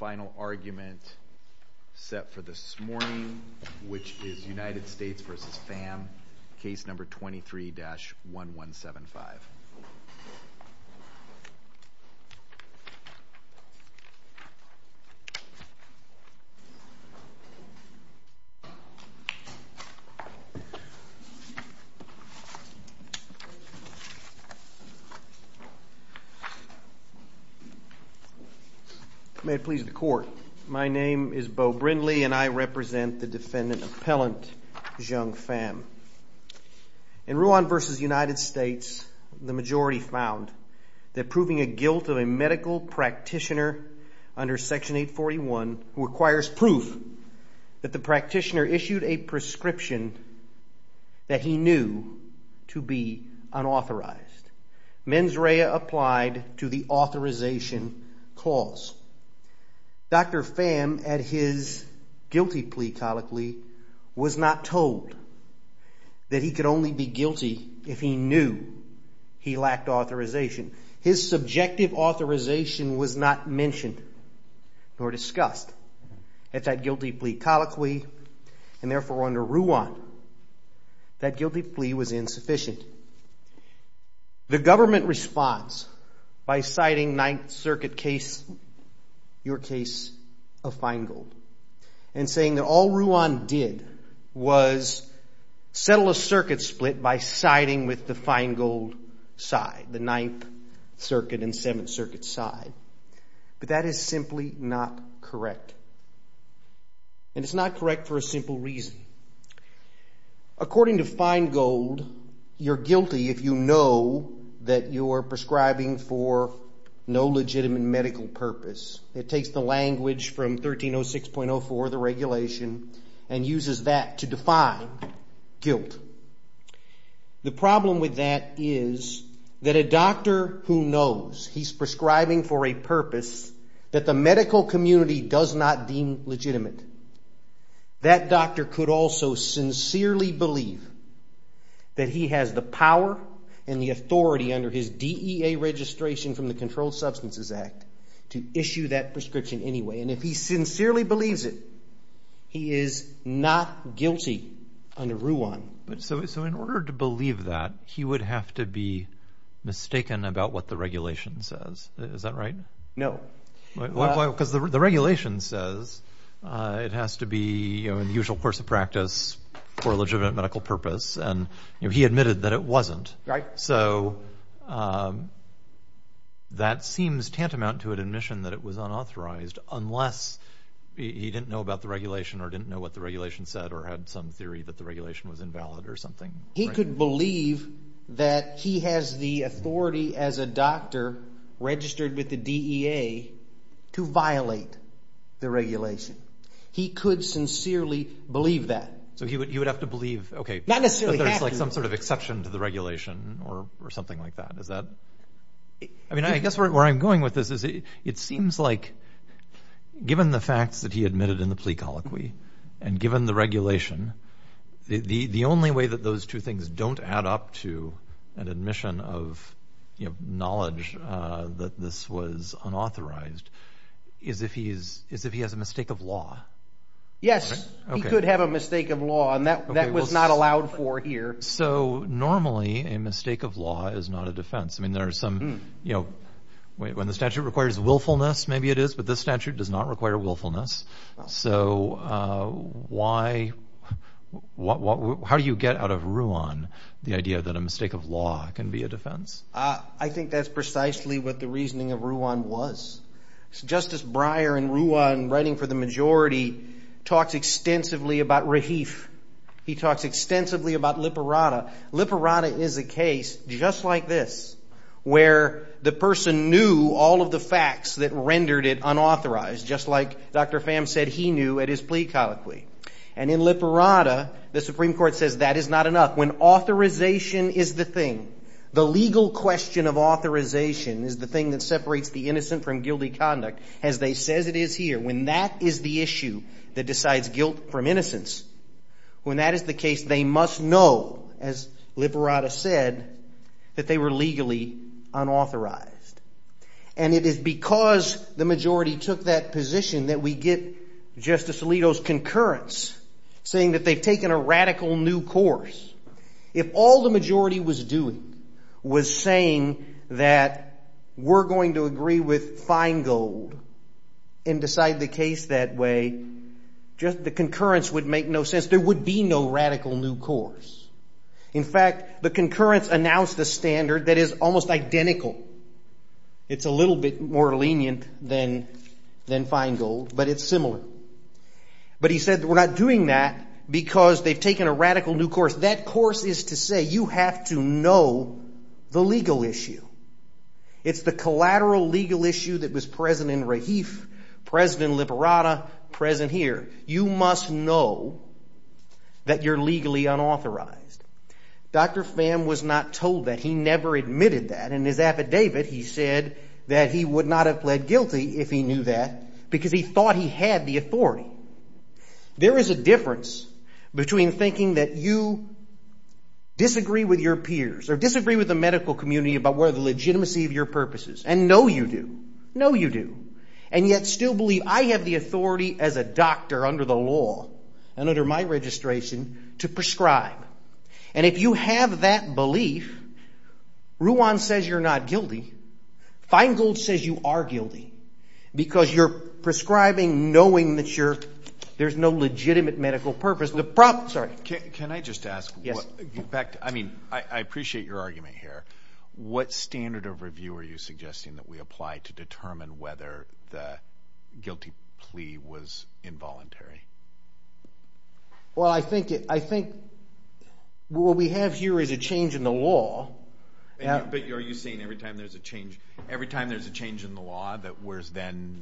final argument set for this morning, which is United States v. Pham, case number 23-1175. May it please the Court, my name is Beau Brindley, and I represent the defendant appellant, Zheung Pham. In Ruan v. United States, the majority found that proving a guilt of a medical practitioner under Section 841 requires proof that the practitioner issued a prescription that he knew to be unauthorized. Mens rea applied to the authorization clause. Dr. Pham at his guilty plea colloquy was not told that he could only be guilty if he knew he lacked authorization. His subjective authorization was not mentioned or discussed at that guilty plea colloquy, and therefore under Ruan, that guilty plea was insufficient. The government responds by citing Ninth Circuit case, your case of Feingold, and saying that all Ruan did was settle a circuit split by siding with the Feingold side, the Ninth Circuit and Seventh Circuit side. But that is simply not correct, and it's not correct for a simple reason. According to Feingold, you're guilty if you know that you're prescribing for no legitimate medical purpose. It takes the language from 1306.04, the regulation, and uses that to define guilt. The problem with that is that a doctor who knows he's prescribing for a medical purpose that the medical community does not deem legitimate, that doctor could also sincerely believe that he has the power and the authority under his DEA registration from the Controlled Substances Act to issue that prescription anyway. And if he sincerely believes it, he is not guilty under Ruan. So in order to believe that, he would have to be mistaken about what the regulation says. Is that right? No. Because the regulation says it has to be in the usual course of practice for a legitimate medical purpose, and he admitted that it wasn't. So that seems tantamount to an admission that it was unauthorized unless he didn't know about the regulation or didn't know what the regulation said or had some theory that the regulation was invalid or something. He could believe that he has the authority as a doctor registered with the DEA to violate the regulation. He could sincerely believe that. So he would have to believe, okay, there's some sort of exception to the regulation or something like that. I mean, I guess where I'm going with this is it seems like given the facts that he admitted in the plea colloquy and given the regulation, the only way that those two things don't add up to an admission of knowledge that this was unauthorized is if he has a mistake of law. Yes, he could have a mistake of law and that was not allowed for here. So normally a mistake of law is not a defense. I mean, there are some, you know, when the statute requires willfulness, maybe it is, but this statute does not require willfulness. So how do you get out of Ruan the idea that a mistake of law can be a defense? I think that's precisely what the reasoning of Ruan was. Justice Breyer in Ruan writing for the majority talks extensively about Rahif. He talks extensively about Liparada. Liparada is a case just like this where the person knew all of the facts that rendered it unauthorized just like Dr. Pham said he knew at his plea colloquy. And in Liparada, the Supreme Court says that is not enough. When authorization is the thing, the legal question of authorization is the thing that separates the innocent from guilty conduct as they says it is here. When that is the issue that decides guilt from innocence, when that is the case, they must know as Liparada said that they were legally unauthorized. And it is because the majority took that position that we get Justice Alito's concurrence saying that they've taken a radical new course. If all the majority was doing was saying that we're going to agree with Feingold and decide the case that way, just the concurrence would make no sense. There would be no radical new course. In fact, the concurrence announced the standard that is almost identical. It's a little bit more lenient than Feingold, but it's similar. But he said we're not doing that because they've taken a radical new course. That course is to say you have to know the legal issue. It's the collateral legal issue that was present in Rahif, present in Liparada, present here. You must know that you're legally unauthorized. Dr. Pham was not told that. He never admitted that. In his affidavit, he said that he would not have pled guilty if he knew that because he thought he had the authority. There is a difference between thinking that you disagree with your peers or disagree with the medical community about whether the legitimacy of your purposes and know you do, know you do, and yet still believe I have the authority as a doctor under the law and under my registration to prescribe. And if you have that belief, Ruan says you're not guilty. Feingold says you are guilty because you're prescribing knowing that there's no legitimate medical purpose. Can I just ask? I appreciate your argument here. What standard of review are you suggesting that we apply to determine whether the guilty plea was involuntary? Well I think what we have here is a change in the law. But are you saying every time there's a change in the law that whereas then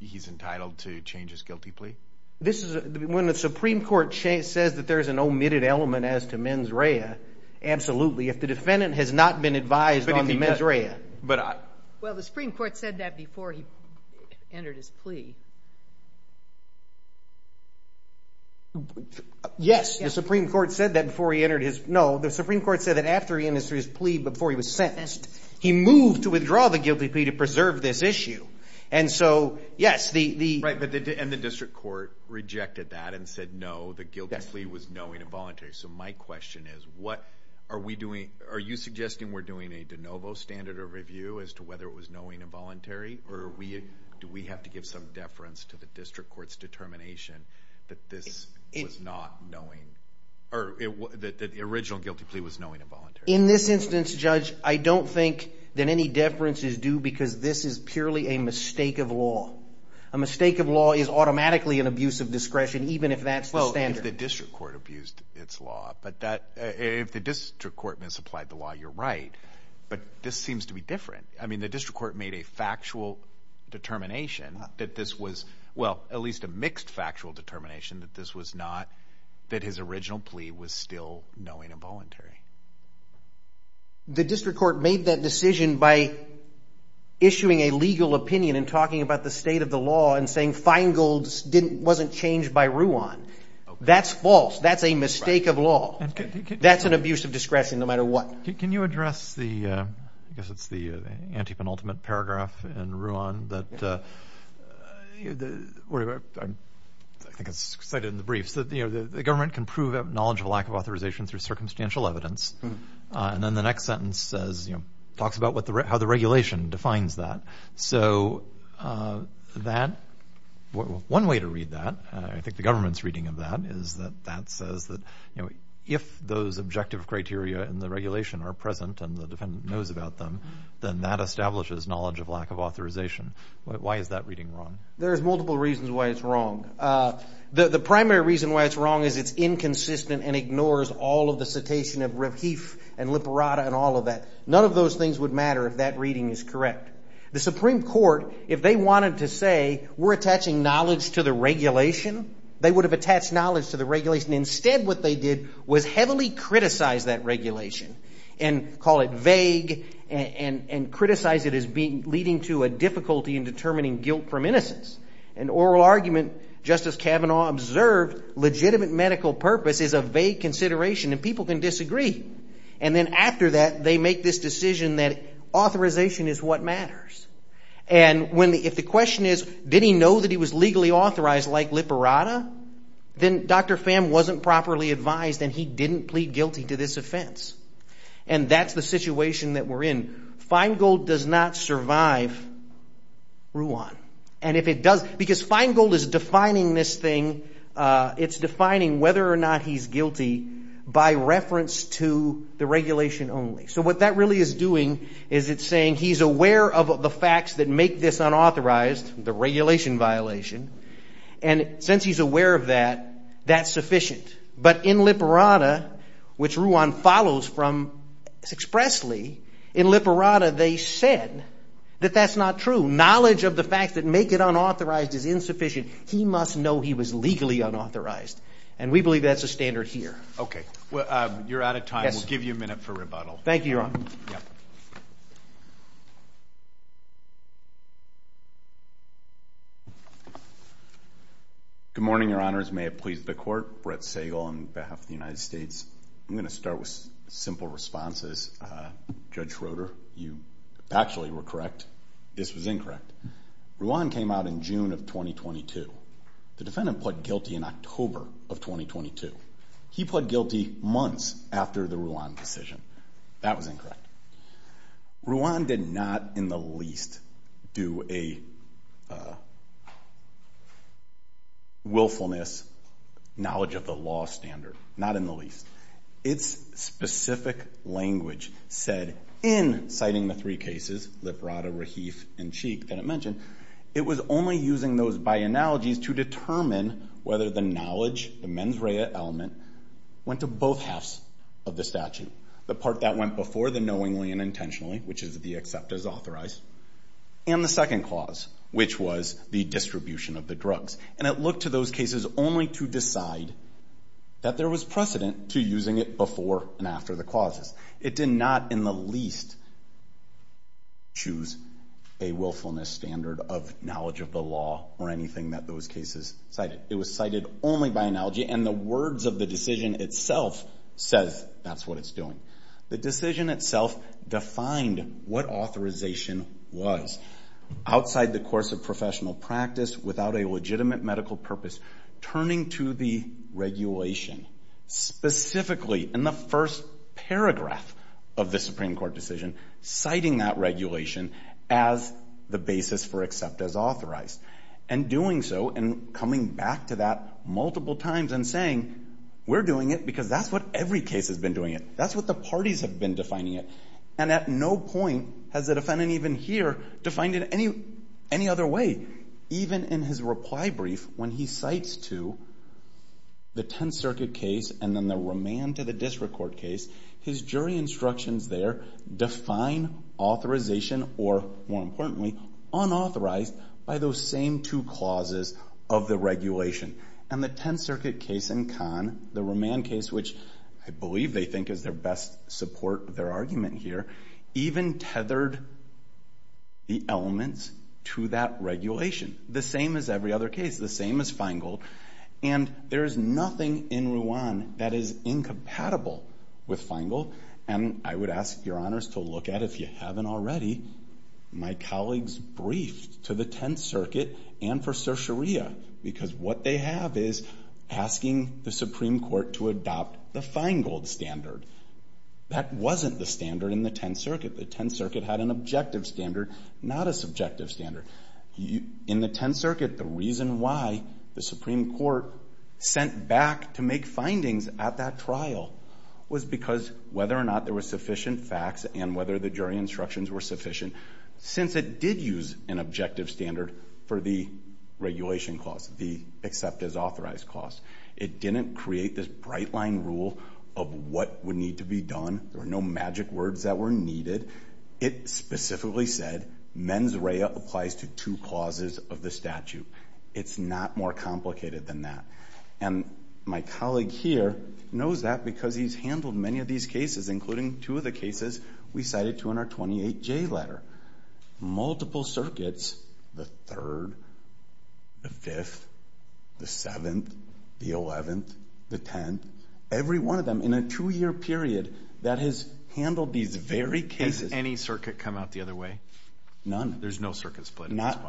he's entitled to change his guilty plea? When the Supreme Court says that there's an omitted element as to mens rea, absolutely. If the defendant has not been advised on the mens rea. Well the Supreme Court said that before he entered his plea. Yes, the Supreme Court said that before he entered his plea. No, the Supreme Court said that after he entered his plea, before he was sentenced, he moved to withdraw the guilty plea to preserve this issue. And so, yes, the... Right, and the district court rejected that and said no, the guilty plea was knowing involuntary. So my question is, are you suggesting we're doing a de novo standard of review as to whether it was knowing involuntary or do we have to give some deference to the district court's determination that this was not knowing, or that the original guilty plea was knowing involuntary? In this instance, Judge, I don't think that any deference is due because this is purely a mistake of law. A mistake of law is automatically an abuse of discretion even if that's the standard. The district court abused its law, but if the district court misapplied the law, you're right, but this seems to be different. I mean, the district court made a factual determination that this was, well, at least a mixed factual determination that this was not, that his original plea was still knowing involuntary. The district court made that decision by issuing a legal opinion and talking about the state of the law and saying Feingold's wasn't changed by Ruan. That's false. That's a mistake of law. That's an abuse of discretion no matter what. Can you address the, I guess it's the anti-penultimate paragraph in Ruan that, I think it's cited in the briefs, that the government can prove a knowledge of lack of authorization through circumstantial evidence, and then the next sentence says, talks about how the regulation defines that. So that, one way to read that, I think the government's reading of that is that that says that, you know, if those objective criteria in the regulation are present and the defendant knows about them, then that establishes knowledge of lack of authorization. Why is that reading wrong? There's multiple reasons why it's wrong. The primary reason why it's wrong is it's inconsistent and ignores all of the citation of ref heaf and liperata and all of that. None of those things would matter if that reading is correct. The Supreme Court, if they wanted to say, we're attaching knowledge to the regulation, they would have attached knowledge to the regulation. Instead, what they did was heavily criticize that regulation and call it vague and criticize it as being, leading to a difficulty in determining guilt from innocence. An oral argument, Justice Kavanaugh observed, legitimate medical purpose is a vague consideration and people can disagree. And then after that, they make this decision that authorization is what matters. And if the question is, did he know that he was legally authorized like liperata, then Dr. Pham wasn't properly advised and he didn't plead guilty to this offense. And that's the situation that we're in. Feingold does not survive Ruan. And if it does, because Feingold is defining this thing, it's defining whether or not he's guilty by reference to the regulation only. So what that really is doing is it's saying he's aware of the facts that make this unauthorized, the regulation violation. And since he's aware of that, that's sufficient. But in liperata, which Ruan follows from expressly, in liperata they said that that's not true. Knowledge of the facts that make it unauthorized is insufficient. He must know he was legally unauthorized. And we believe that's a standard here. Okay. Well, you're out of time. We'll give you a minute for rebuttal. Thank you, Your Honor. Good morning, Your Honors. May it please the Court. Brett Sagal on behalf of the United States. I'm going to start with simple responses. Judge Schroeder, you actually were correct. This was incorrect. Ruan came out in June of 2022. The defendant pled guilty in October of 2022. He pled guilty months after the Ruan decision. That was incorrect. Ruan did not in the least do a willfulness, knowledge of the law standard. Not in the least. Its specific language said, in citing the three cases, liperata, Rahif, and Cheek that I mentioned, it was only using those by analogies to determine whether the knowledge, the mens rea element, went to both halves of the statute. The part that went before the knowingly and intentionally, which is the accept as authorized. And the second clause, which was the distribution of the drugs. And it looked to those cases only to decide that there was precedent to using it before and after the clauses. It did not in the least choose a willfulness standard of knowledge of the law or anything that those cases cited. It was cited only by analogy and the words of the decision itself says that's what it's doing. The decision itself defined what authorization was. Outside the course of professional practice, without a legitimate medical purpose, turning to the regulation, specifically in the first paragraph of the Supreme Court decision, citing that regulation as the basis for accept as authorized. And doing so and coming back to that multiple times and saying, we're doing it because that's what every case has been doing it. That's what the parties have been defining it. And at no point has the defendant even here defined it any other way, even in his reply brief when he cites to the Tenth Circuit case and then the remand to the district court case, his jury instructions there define authorization or, more importantly, unauthorized by those same two clauses of the regulation. And the Tenth Circuit case and Kahn, the remand case which I believe they think is their best support of their argument here, even tethered the elements to that regulation. The same as every other case. The same as Feingold. And there is nothing in Ruan that is incompatible with Feingold. And I would ask your honors to look at, if you haven't already, my colleagues' brief to the Tenth Circuit and for certioraria because what they have is asking the Supreme Court to adopt the Feingold standard. That wasn't the standard in the Tenth Circuit. The Tenth Circuit had an objective standard, not a subjective standard. In the Tenth Circuit, the reason why the Supreme Court sent back to make findings at that trial was because whether or not there were sufficient facts and whether the jury instructions were sufficient. Since it did use an objective standard for the regulation clause, the accept as authorized clause, it didn't create this bright line rule of what would need to be done. There were no magic words that were needed. It specifically said mens rea applies to two clauses of the statute. It's not more complicated than that. And my colleague here knows that because he's handled many of these cases, including two of the cases we cited to in our 28J letter. Multiple circuits, the Third, the Fifth, the Eleventh, the Eleventh, the Tenth, every one of them in a two-year period that has handled these very cases. Has any circuit come out the other way? None. There's no circuit split. Not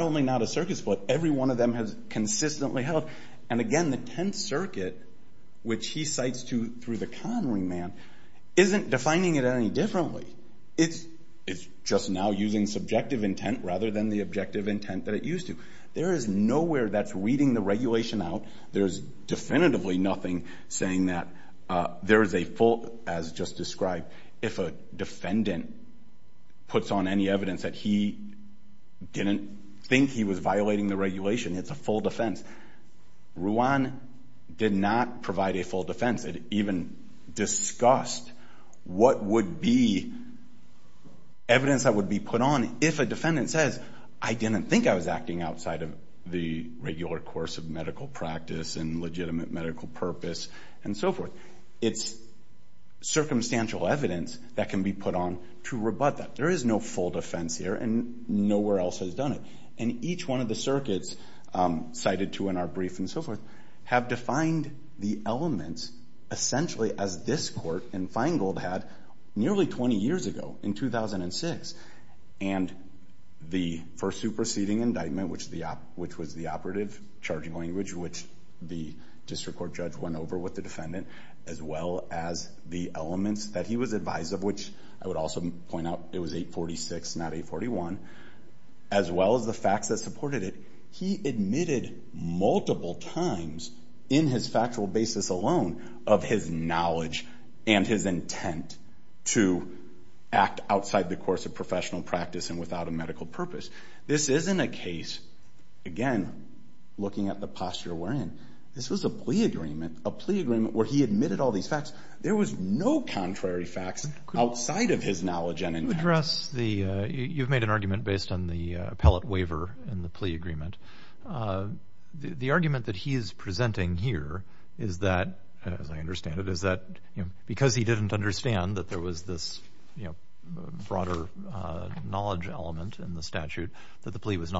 only not a circuit split, every one of them has consistently held. And again, the Tenth Circuit, which he cites through the con remand, isn't defining it any differently. It's just now using subjective intent rather than the objective intent that it used to. There is nowhere that's reading the regulation out. There's definitively nothing saying that there is a full, as just described, if a defendant puts on any evidence that he didn't think he was violating the regulation, it's a full defense. Ruan did not provide a full defense. It even discussed what would be evidence that would be put on if a defendant says, I didn't think I was acting outside of the regular course of medical practice and legitimate medical purpose, and so forth. It's circumstantial evidence that can be put on to rebut that. There is no full defense here, and nowhere else has done it. And each one of the circuits cited to in our brief and so forth have defined the elements essentially as this court in Feingold had nearly 20 years ago, in 2006. And the first superseding indictment, which was the operative charging language, which the district court judge went over with the defendant, as well as the elements that he was advised of, which I would also point out it was 846, not 841, as well as the facts that supported it, he admitted multiple times in his factual basis alone of his knowledge and his intent to act outside the course of professional practice and without a medical purpose. This isn't a case, again, looking at the posture we're in. This was a plea agreement, a plea agreement where he admitted all these facts. There was no contrary facts outside of his knowledge and intent. You address the, you've made an argument based on the appellate waiver in the plea agreement. The argument that he is presenting here is that, as I understand it, is that because he didn't understand that there was this broader knowledge element in the statute, that the plea was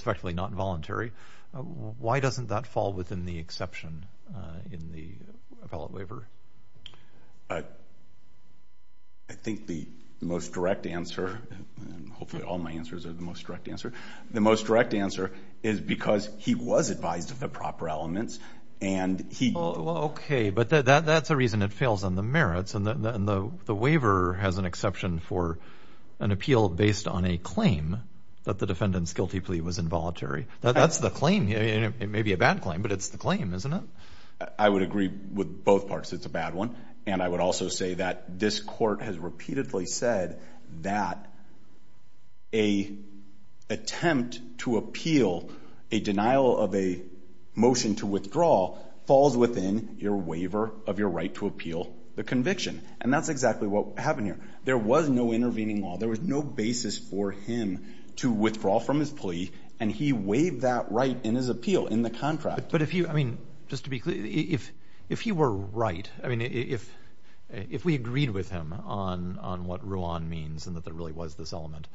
effectively not voluntary. Why doesn't that fall within the exception in the appellate waiver? I think the most direct answer, and hopefully all my answers are the most direct answer, the most direct answer is because he was advised of the proper elements and he... Okay, but that's a reason it fails on the merits and the waiver has an exception for an appeal based on a claim that the defendant's guilty plea was involuntary. That's the claim. It may be a bad claim, but it's the claim, isn't it? I would agree with both parts. It's a bad one. I would also say that this court has repeatedly said that an attempt to appeal a denial of a motion to withdraw falls within your waiver of your right to appeal the conviction. And that's exactly what happened here. There was no intervening law. There was no basis for him to withdraw from his plea and he waived that right in his appeal, in the contract. But if you, I mean, just to be clear, if he were right, I mean, if we agreed with him on what Ruan means and that there really was this element,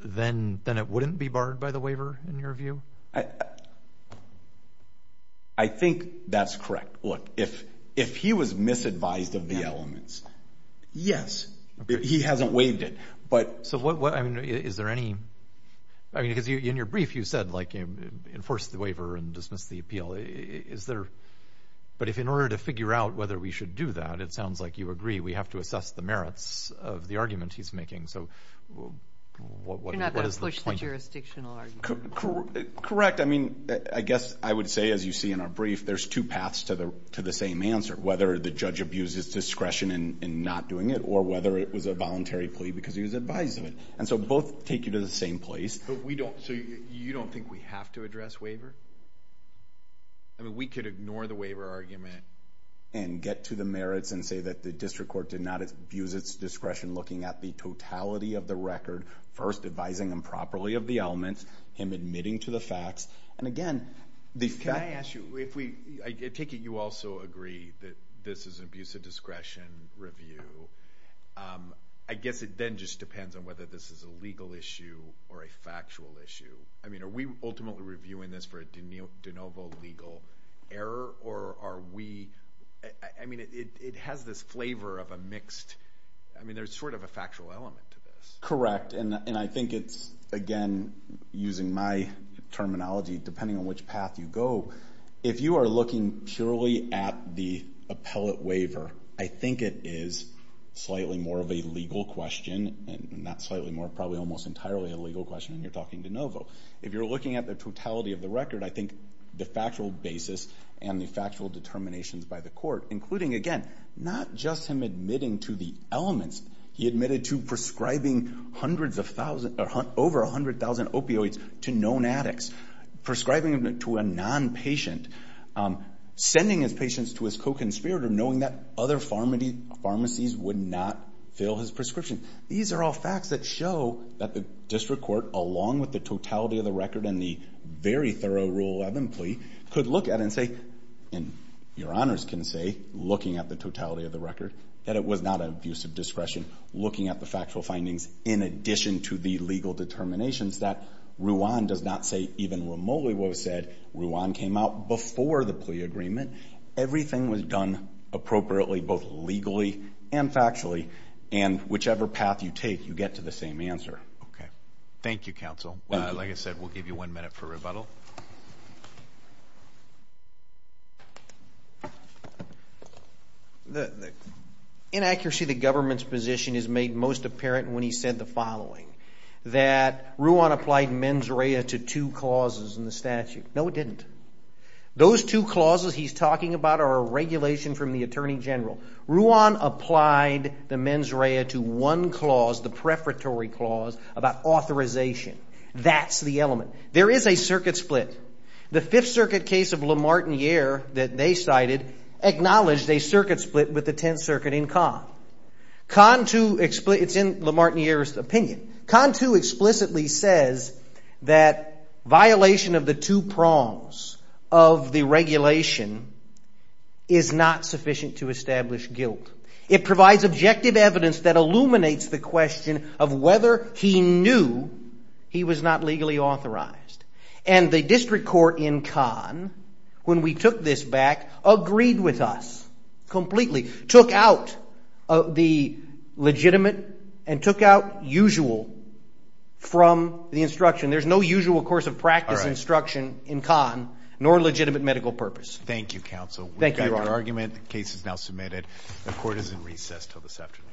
then it wouldn't be barred by the waiver in your view? I think that's correct. Look, if he was misadvised of the elements, yes, he hasn't waived it, but... So what, I mean, is there any... I mean, because in your brief you said, like, enforce the waiver and dismiss the appeal. Is there... But if in order to figure out whether we should do that, it sounds like you agree, we have to assess the merits of the argument he's making. So what is the point of... You're not going to push the jurisdictional argument. Correct. I mean, I guess I would say, as you see in our brief, there's two paths to the same answer, whether the judge abuses discretion in not doing it or whether it was a voluntary plea because he was advised of it. And so both take you to the same place. But we don't... So you don't think we have to address waiver? I mean, we could ignore the waiver argument and get to the merits and say that the district court did not abuse its discretion looking at the totality of the record, first advising improperly of the elements, him admitting to the facts. And again, the fact... Can I ask you, if we... I take it you also agree that this is an abuse of discretion review. I guess it then just depends on whether this is a legal issue or a factual issue. I mean, are we ultimately reviewing this for a de novo legal error or are we... I mean, it has this flavor of a mixed... I mean, there's sort of a factual element to this. Correct. And I think it's, again, using my terminology, depending on which path you go, if you are looking purely at the appellate waiver, I think it is slightly more of a legal question and not slightly more, probably almost entirely a legal question when you're talking de novo. If you're looking at the totality of the record, I think the factual basis and the factual determinations by the court, including, again, not just him admitting to the elements, he admitted to prescribing hundreds of thousands or over 100,000 opioids to known addicts, prescribing them to a non-patient, sending his patients to his co-conspirator knowing that other pharmacies would not fill his prescription. These are all facts that show that the district court, along with the totality of the record and the very thorough Rule 11 plea, could look at and say, and your honors can say, looking at the totality of the record, that it was not an abuse of discretion, looking at the factual findings in addition to the legal determinations, that Ruan does not say even what Moliwo said. Ruan came out before the plea agreement. Everything was done appropriately, both legally and factually, and whichever path you take, you get to the same answer. Okay. Thank you, counsel. Like I said, we'll give you one minute for rebuttal. Inaccuracy of the government's position is made most apparent when he said the following, that Ruan applied mens rea to two clauses in the statute. No, it didn't. Those two clauses he's talking about are a regulation from the Attorney General. Ruan applied the mens rea to one clause, the preparatory clause, about authorization. That's the element. There is not a circuit split. The Fifth Circuit case of Lamartin-Year, that they cited, acknowledged a circuit split with the Tenth Circuit in Cannes. It's in Lamartin-Year's opinion. Cannes too explicitly says that violation of the two prongs of the regulation is not sufficient to establish guilt. It provides objective evidence that illuminates the question of whether he knew he was not legally authorized. And the district court in Cannes, when we took this back, agreed with us completely, took out the legitimate and took out usual from the instruction. There's no usual course of practice instruction in Cannes, nor legitimate medical purpose. Thank you, counsel. We've got your argument. The case is now submitted. The court is in recess until this afternoon.